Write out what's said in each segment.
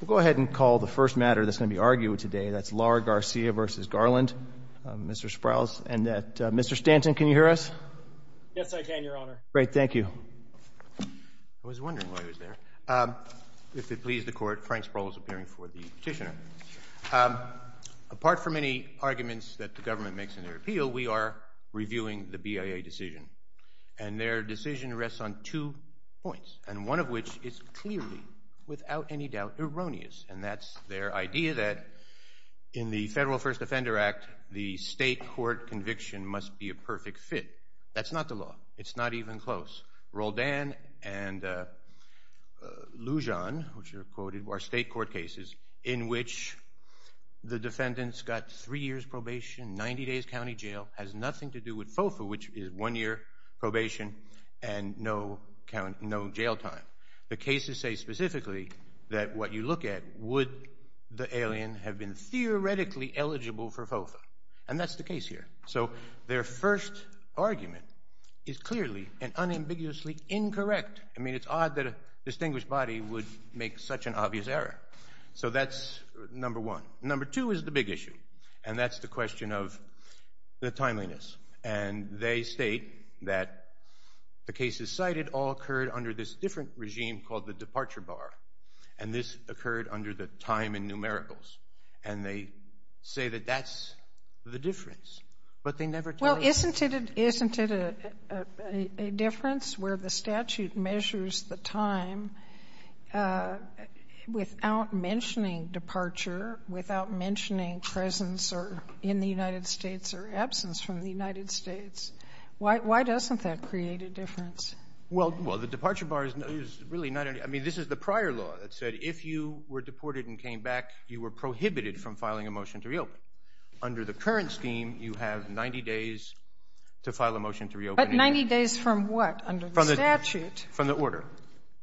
We'll go ahead and call the first matter that's going to be argued today. That's Lara-Garcia v. Garland. Mr. Sprouls and Mr. Stanton, can you hear us? Yes, I can, Your Honor. Great, thank you. I was wondering why he was there. If it pleases the Court, Frank Sproul is appearing for the petitioner. Apart from any arguments that the government makes in their appeal, we are reviewing the BIA decision. And their decision rests on two points, and one of which is clearly, without any doubt, erroneous. And that's their idea that in the Federal First Offender Act, the state court conviction must be a perfect fit. That's not the law. It's not even close. Roldan and Lujan, which are quoted, are state court cases in which the defendants got three years probation, 90 days county jail. It has nothing to do with FOFA, which is one year probation and no jail time. The cases say specifically that what you look at would the alien have been theoretically eligible for FOFA. And that's the case here. So their first argument is clearly and unambiguously incorrect. I mean, it's odd that a distinguished body would make such an obvious error. So that's number one. And they state that the cases cited all occurred under this different regime called the departure bar. And this occurred under the time in numericals. And they say that that's the difference, but they never tell you. Well, isn't it a difference where the statute measures the time without mentioning departure, without mentioning presence or in the United States or absence from the United States? Why doesn't that create a difference? Well, the departure bar is really not any – I mean, this is the prior law that said if you were deported and came back, you were prohibited from filing a motion to reopen. Under the current scheme, you have 90 days to file a motion to reopen. But 90 days from what, under the statute? From the order.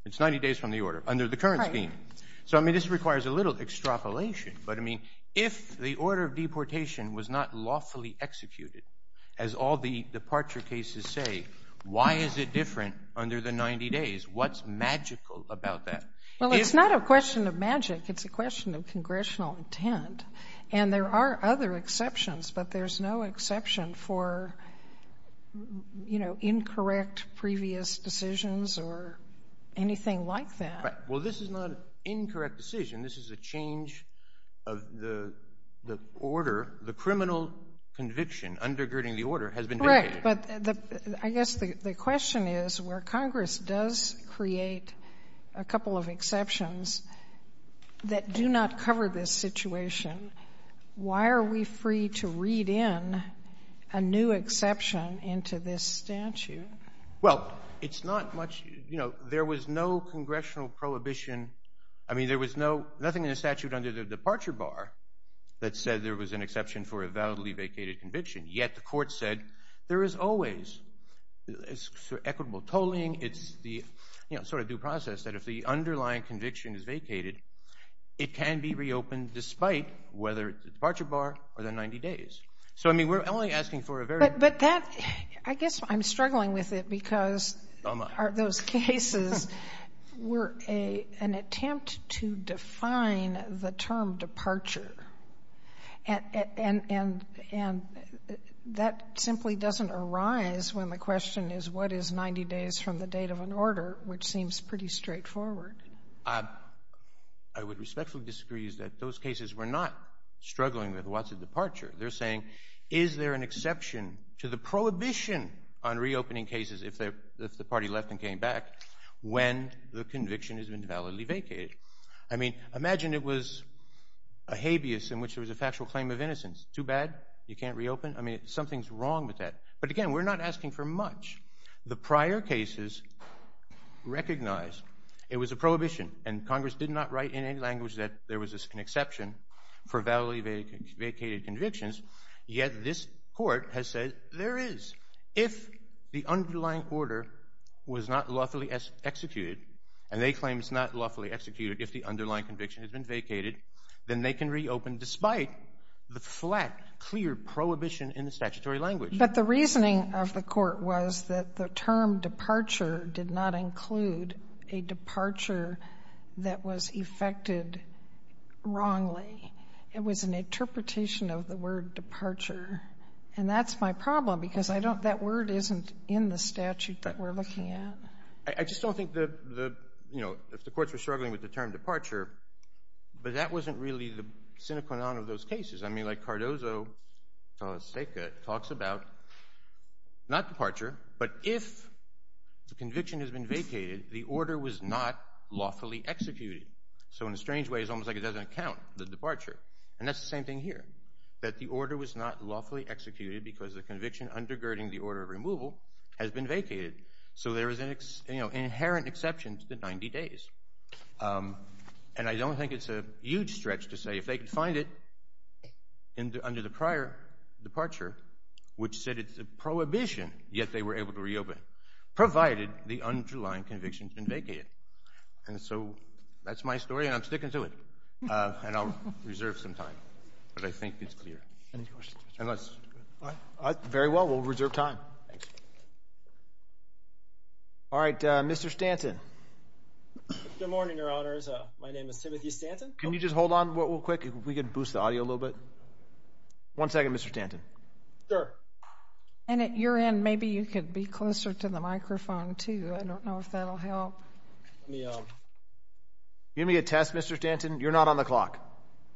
It's 90 days from the order, under the current scheme. Right. So, I mean, this requires a little extrapolation. But, I mean, if the order of deportation was not lawfully executed, as all the departure cases say, why is it different under the 90 days? What's magical about that? Well, it's not a question of magic. It's a question of congressional intent. And there are other exceptions, but there's no exception for, you know, incorrect previous decisions or anything like that. Right. Well, this is not an incorrect decision. This is a change of the order. The criminal conviction undergirding the order has been negated. Correct. But I guess the question is, where Congress does create a couple of exceptions that do not cover this situation, why are we free to read in a new exception into this statute? Well, it's not much – you know, there was no congressional prohibition. I mean, there was nothing in the statute under the departure bar that said there was an exception for a validly vacated conviction. Yet the court said there is always equitable tolling. It's the, you know, sort of due process that if the underlying conviction is vacated, it can be reopened despite whether it's the departure bar or the 90 days. So, I mean, we're only asking for a very – But that – I guess I'm struggling with it because – Oh, my. Those cases were an attempt to define the term departure. And that simply doesn't arise when the question is what is 90 days from the date of an order, which seems pretty straightforward. I would respectfully disagree that those cases were not struggling with what's a departure. They're saying, is there an exception to the prohibition on reopening cases if the party left and came back when the conviction has been validly vacated? I mean, imagine it was a habeas in which there was a factual claim of innocence. Too bad? You can't reopen? I mean, something's wrong with that. But, again, we're not asking for much. The prior cases recognized it was a prohibition, and Congress did not write in any language that there was an exception for validly vacated convictions. Yet this court has said there is. If the underlying order was not lawfully executed, and they claim it's not lawfully executed if the underlying conviction has been vacated, then they can reopen despite the flat, clear prohibition in the statutory language. But the reasoning of the court was that the term departure did not include a departure that was effected wrongly. It was an interpretation of the word departure. And that's my problem because that word isn't in the statute that we're looking at. I just don't think the courts are struggling with the term departure, but that wasn't really the sine qua non of those cases. I mean, like Cardozo talks about not departure, but if the conviction has been vacated, the order was not lawfully executed. So, in a strange way, it's almost like it doesn't count, the departure. And that's the same thing here, that the order was not lawfully executed because the conviction undergirding the order of removal has been vacated. So there is an inherent exception to the 90 days. And I don't think it's a huge stretch to say if they could find it under the prior departure, which said it's a prohibition, yet they were able to reopen, provided the underlying conviction had been vacated. And so that's my story, and I'm sticking to it. And I'll reserve some time, but I think it's clear. Any questions? Very well, we'll reserve time. All right, Mr. Stanton. Good morning, Your Honors. My name is Timothy Stanton. Can you just hold on real quick? We could boost the audio a little bit. One second, Mr. Stanton. Sure. And at your end, maybe you could be closer to the microphone, too. I don't know if that will help. Give me a test, Mr. Stanton. You're not on the clock.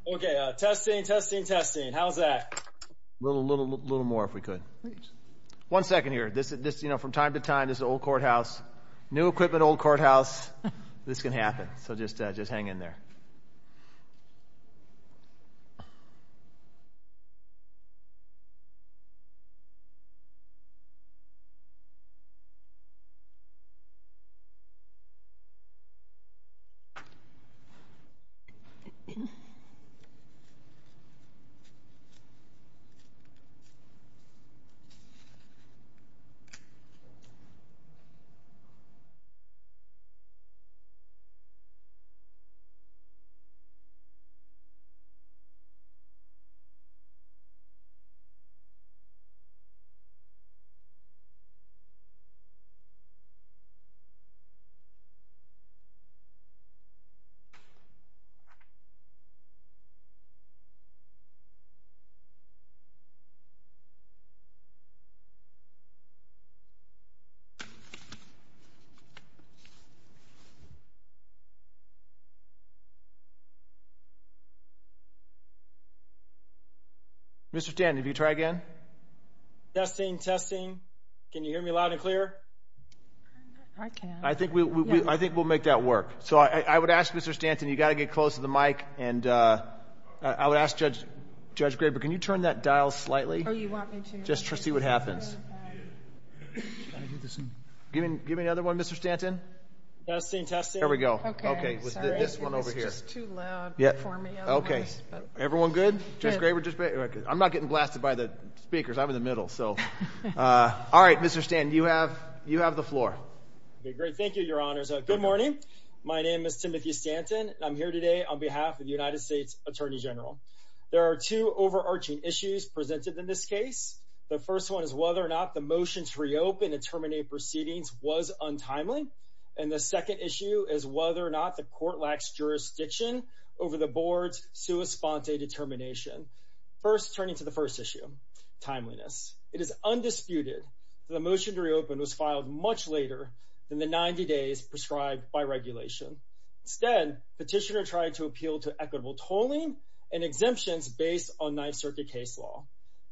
Okay, testing, testing, testing. How's that? A little more if we could. One second here. From time to time, this is an old courthouse. New equipment, old courthouse. This can happen, so just hang in there. Okay. Mr. Stanton, can you try again? Testing, testing. Can you hear me loud and clear? I can. I think we'll make that work. So I would ask, Mr. Stanton, you've got to get close to the mic. And I would ask Judge Graber, can you turn that dial slightly? Oh, you want me to? Just to see what happens. Give me another one, Mr. Stanton. Testing, testing. There we go. Okay. With this one over here. It's just too loud for me. Okay. Everyone good? Judge Graber? I'm not getting blasted by the speakers. I'm in the middle, so. All right, Mr. Stanton, you have the floor. Okay, great. Thank you, Your Honors. Good morning. My name is Timothy Stanton, and I'm here today on behalf of the United States Attorney General. There are two overarching issues presented in this case. The first one is whether or not the motion to reopen and terminate proceedings was untimely. And the second issue is whether or not the court lacks jurisdiction over the board's sua sponte determination. First, turning to the first issue, timeliness. It is undisputed that the motion to reopen was filed much later than the 90 days prescribed by regulation. Instead, Petitioner tried to appeal to equitable tolling and exemptions based on Ninth Circuit case law.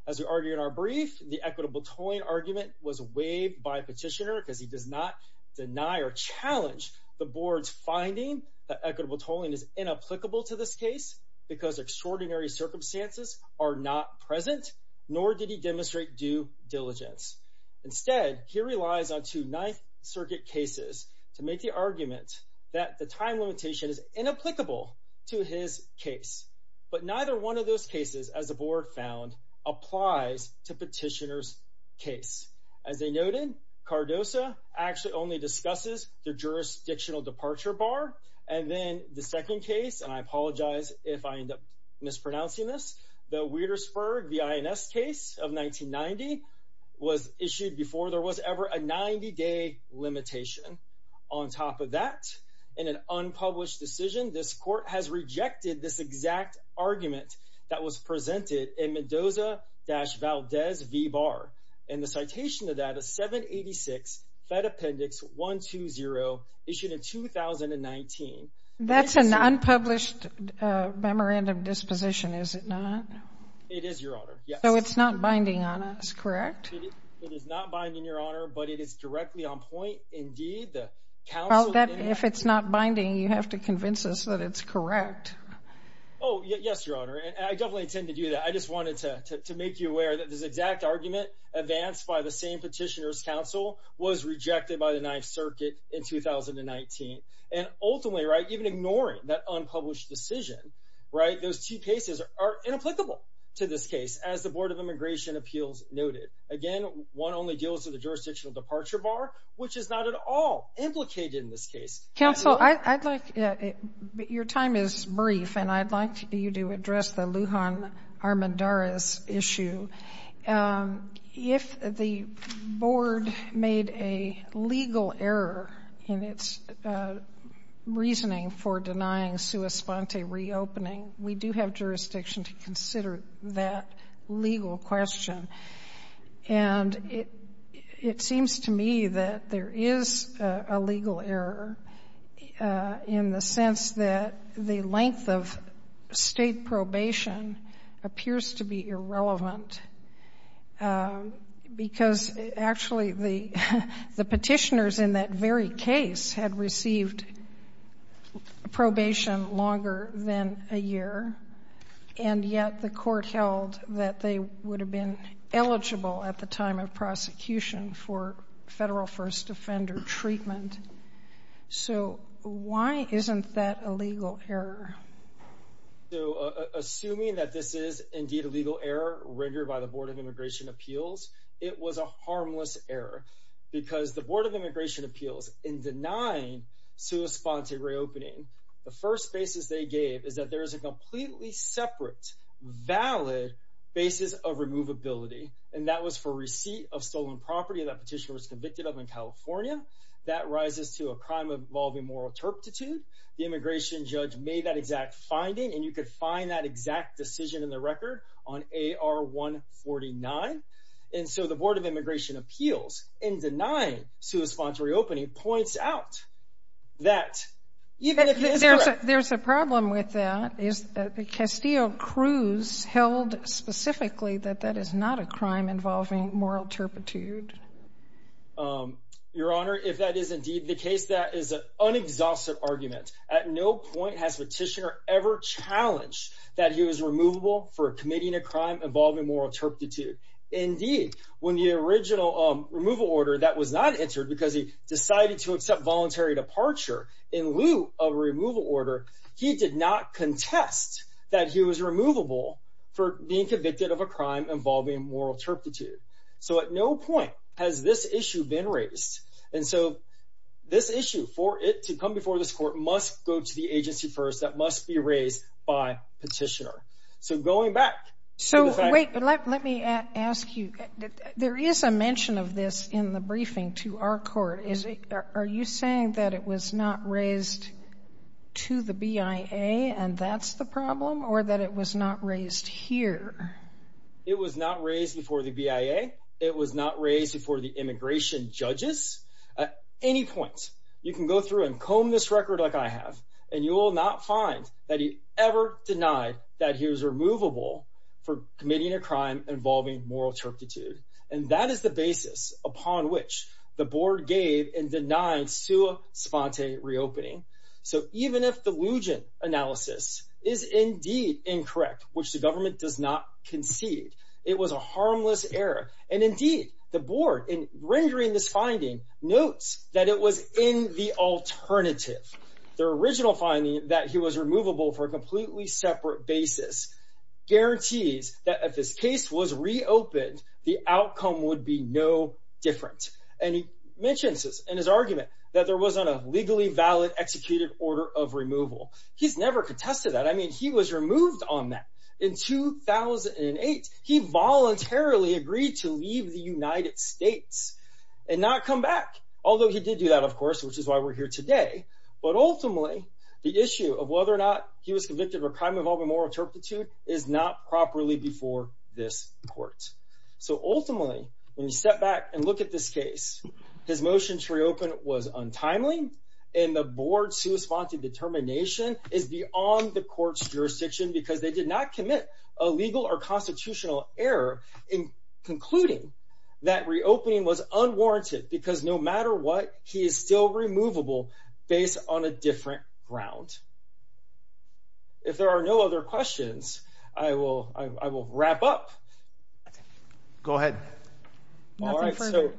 As we argued in our brief, the equitable tolling argument was waived by Petitioner because he does not deny or challenge the board's finding that equitable tolling is inapplicable to this case because extraordinary circumstances are not present. Nor did he demonstrate due diligence. Instead, he relies on two Ninth Circuit cases to make the argument that the time limitation is inapplicable to his case. But neither one of those cases, as the board found, applies to Petitioner's case. As they noted, Cardoza actually only discusses the jurisdictional departure bar. And then the second case, and I apologize if I end up mispronouncing this, the Wietersburg v. INS case of 1990 was issued before there was ever a 90-day limitation. On top of that, in an unpublished decision, this court has rejected this exact argument that was presented in Mendoza-Valdez v. Barr. And the citation to that is 786 Fed Appendix 120, issued in 2019. That's an unpublished memorandum disposition, is it not? It is, Your Honor. So it's not binding on us, correct? It is not binding, Your Honor, but it is directly on point. Indeed, the counsel— Well, if it's not binding, you have to convince us that it's correct. Oh, yes, Your Honor. And I definitely intend to do that. I just wanted to make you aware that this exact argument, advanced by the same Petitioner's counsel, was rejected by the Ninth Circuit in 2019. And ultimately, right, even ignoring that unpublished decision, right, those two cases are inapplicable to this case, as the Board of Immigration Appeals noted. Again, one only deals with the jurisdictional departure bar, which is not at all implicated in this case. Counsel, I'd like—your time is brief, and I'd like you to address the Lujan-Armendariz issue. If the Board made a legal error in its reasoning for denying sua sponte reopening, we do have jurisdiction to consider that legal question. And it seems to me that there is a legal error in the sense that the length of State probation appears to be irrelevant, because, actually, the Petitioners in that very case had received probation longer than a year, and yet the court held that they would have been eligible at the time of prosecution for federal first offender treatment. So why isn't that a legal error? So assuming that this is indeed a legal error rendered by the Board of Immigration Appeals, it was a harmless error, because the Board of Immigration Appeals, in denying sua sponte reopening, the first basis they gave is that there is a completely separate, valid basis of removability, and that was for receipt of stolen property that Petitioner was convicted of in California. That rises to a crime involving moral turpitude. The immigration judge made that exact finding, and you could find that exact decision in the record on AR 149. And so the Board of Immigration Appeals, in denying sua sponte reopening, points out that, even if it is correct— There's a problem with that. Castillo-Cruz held specifically that that is not a crime involving moral turpitude. Your Honor, if that is indeed the case, that is an unexhausted argument. At no point has Petitioner ever challenged that he was removable for committing a crime involving moral turpitude. Indeed, when the original removal order that was not entered, because he decided to accept voluntary departure in lieu of a removal order, he did not contest that he was removable for being convicted of a crime involving moral turpitude. So at no point has this issue been raised. And so this issue, for it to come before this Court, must go to the agency first. That must be raised by Petitioner. So going back— So wait, let me ask you. There is a mention of this in the briefing to our Court. Are you saying that it was not raised to the BIA, and that's the problem, or that it was not raised here? It was not raised before the BIA. It was not raised before the immigration judges. At any point, you can go through and comb this record like I have, and you will not find that he ever denied that he was removable for committing a crime involving moral turpitude. And that is the basis upon which the Board gave in denying sua sponte reopening. So even if the Lugin analysis is indeed incorrect, which the government does not concede, it was a harmless error. And indeed, the Board, in rendering this finding, notes that it was in the alternative. Their original finding that he was removable for a completely separate basis guarantees that if his case was reopened, the outcome would be no different. And he mentions this in his argument that there wasn't a legally valid executed order of removal. He's never contested that. I mean, he was removed on that in 2008. He voluntarily agreed to leave the United States and not come back, although he did do that, of course, which is why we're here today. But ultimately, the issue of whether or not he was convicted of a crime involving moral turpitude is not properly before this Court. So ultimately, when you step back and look at this case, his motion to reopen was untimely, and the Board's sua sponte determination is beyond the Court's jurisdiction because they did not commit a legal or constitutional error in concluding that reopening was unwarranted because no matter what, he is still removable based on a different ground. If there are no other questions, I will wrap up. Go ahead. All right. So,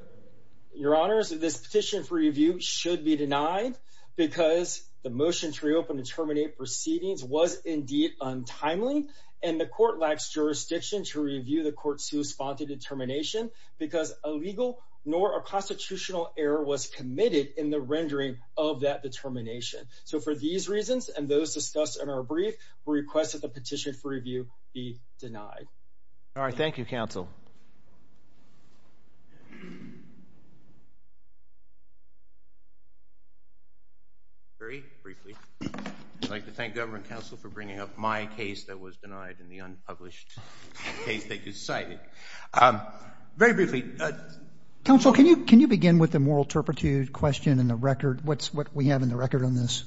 Your Honors, this petition for review should be denied because the motion to reopen to terminate proceedings was indeed untimely, and the Court lacks jurisdiction to review the Court's sua sponte determination because a legal nor a constitutional error was committed in the rendering of that determination. So for these reasons and those discussed in our brief, we request that the petition for review be denied. All right. Thank you, Counsel. Very briefly, I'd like to thank Government Counsel for bringing up my case that was denied in the unpublished case that you cited. Very briefly. Counsel, can you begin with the moral turpitude question in the record, what we have in the record on this?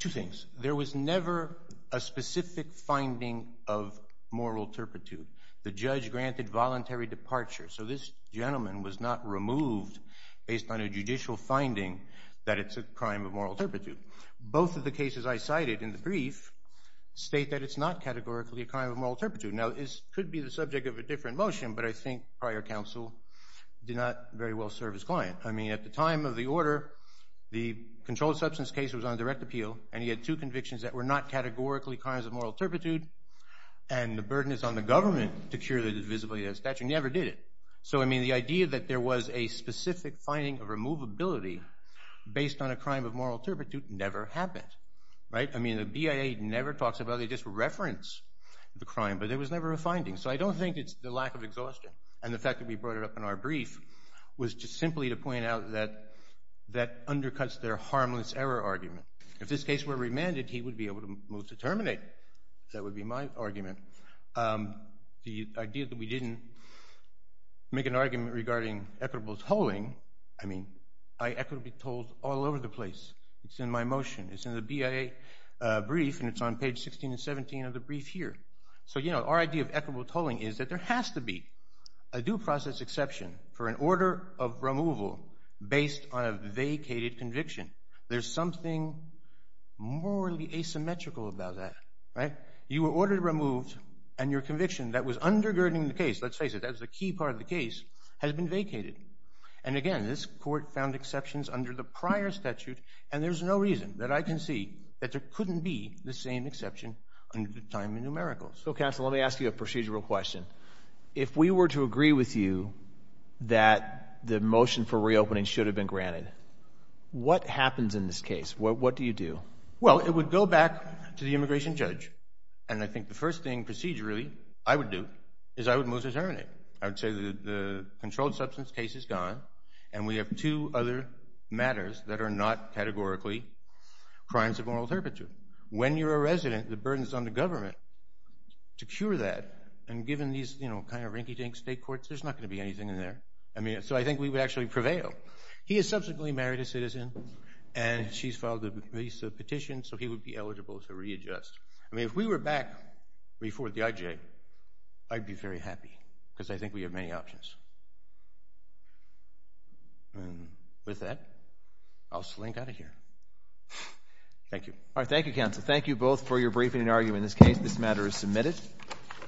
Two things. There was never a specific finding of moral turpitude. The judge granted voluntary departure, so this gentleman was not removed based on a judicial finding that it's a crime of moral turpitude. Both of the cases I cited in the brief state that it's not categorically a crime of moral turpitude. Now, this could be the subject of a different motion, but I think prior counsel did not very well serve his client. I mean, at the time of the order, the controlled substance case was on direct appeal, and he had two convictions that were not categorically crimes of moral turpitude, and the burden is on the government to cure the disability statute, and he never did it. So, I mean, the idea that there was a specific finding of removability based on a crime of moral turpitude never happened, right? I mean, the BIA never talks about it. They just reference the crime, but there was never a finding, so I don't think it's the lack of exhaustion, and the fact that we brought it up in our brief was just simply to point out that that undercuts their harmless error argument. If this case were remanded, he would be able to move to terminate. That would be my argument. The idea that we didn't make an argument regarding equitable tolling, I mean, I equitably tolled all over the place. It's in my motion. It's in the BIA brief, and it's on page 16 and 17 of the brief here. So, you know, our idea of equitable tolling is that there has to be a due process exception for an order of removal based on a vacated conviction. There's something morally asymmetrical about that, right? You were ordered removed, and your conviction that was undergirding the case, let's face it, that was the key part of the case, has been vacated, and again, this court found exceptions under the prior statute, and there's no reason that I can see that there couldn't be the same exception under the time of numericals. So, counsel, let me ask you a procedural question. If we were to agree with you that the motion for reopening should have been granted, what happens in this case? What do you do? Well, it would go back to the immigration judge, and I think the first thing procedurally I would do is I would move to terminate. I would say that the controlled substance case is gone, and we have two other matters that are not categorically crimes of moral turpitude. When you're a resident, the burden is on the government to cure that, and given these, you know, kind of rinky-dink state courts, there's not going to be anything in there. I mean, so I think we would actually prevail. He has subsequently married a citizen, and she's filed a petition, so he would be eligible to readjust. I mean, if we were back before the IJ, I'd be very happy because I think we have many options. And with that, I'll slink out of here. Thank you. All right, thank you, counsel. Thank you both for your briefing and argument in this case. This matter is submitted.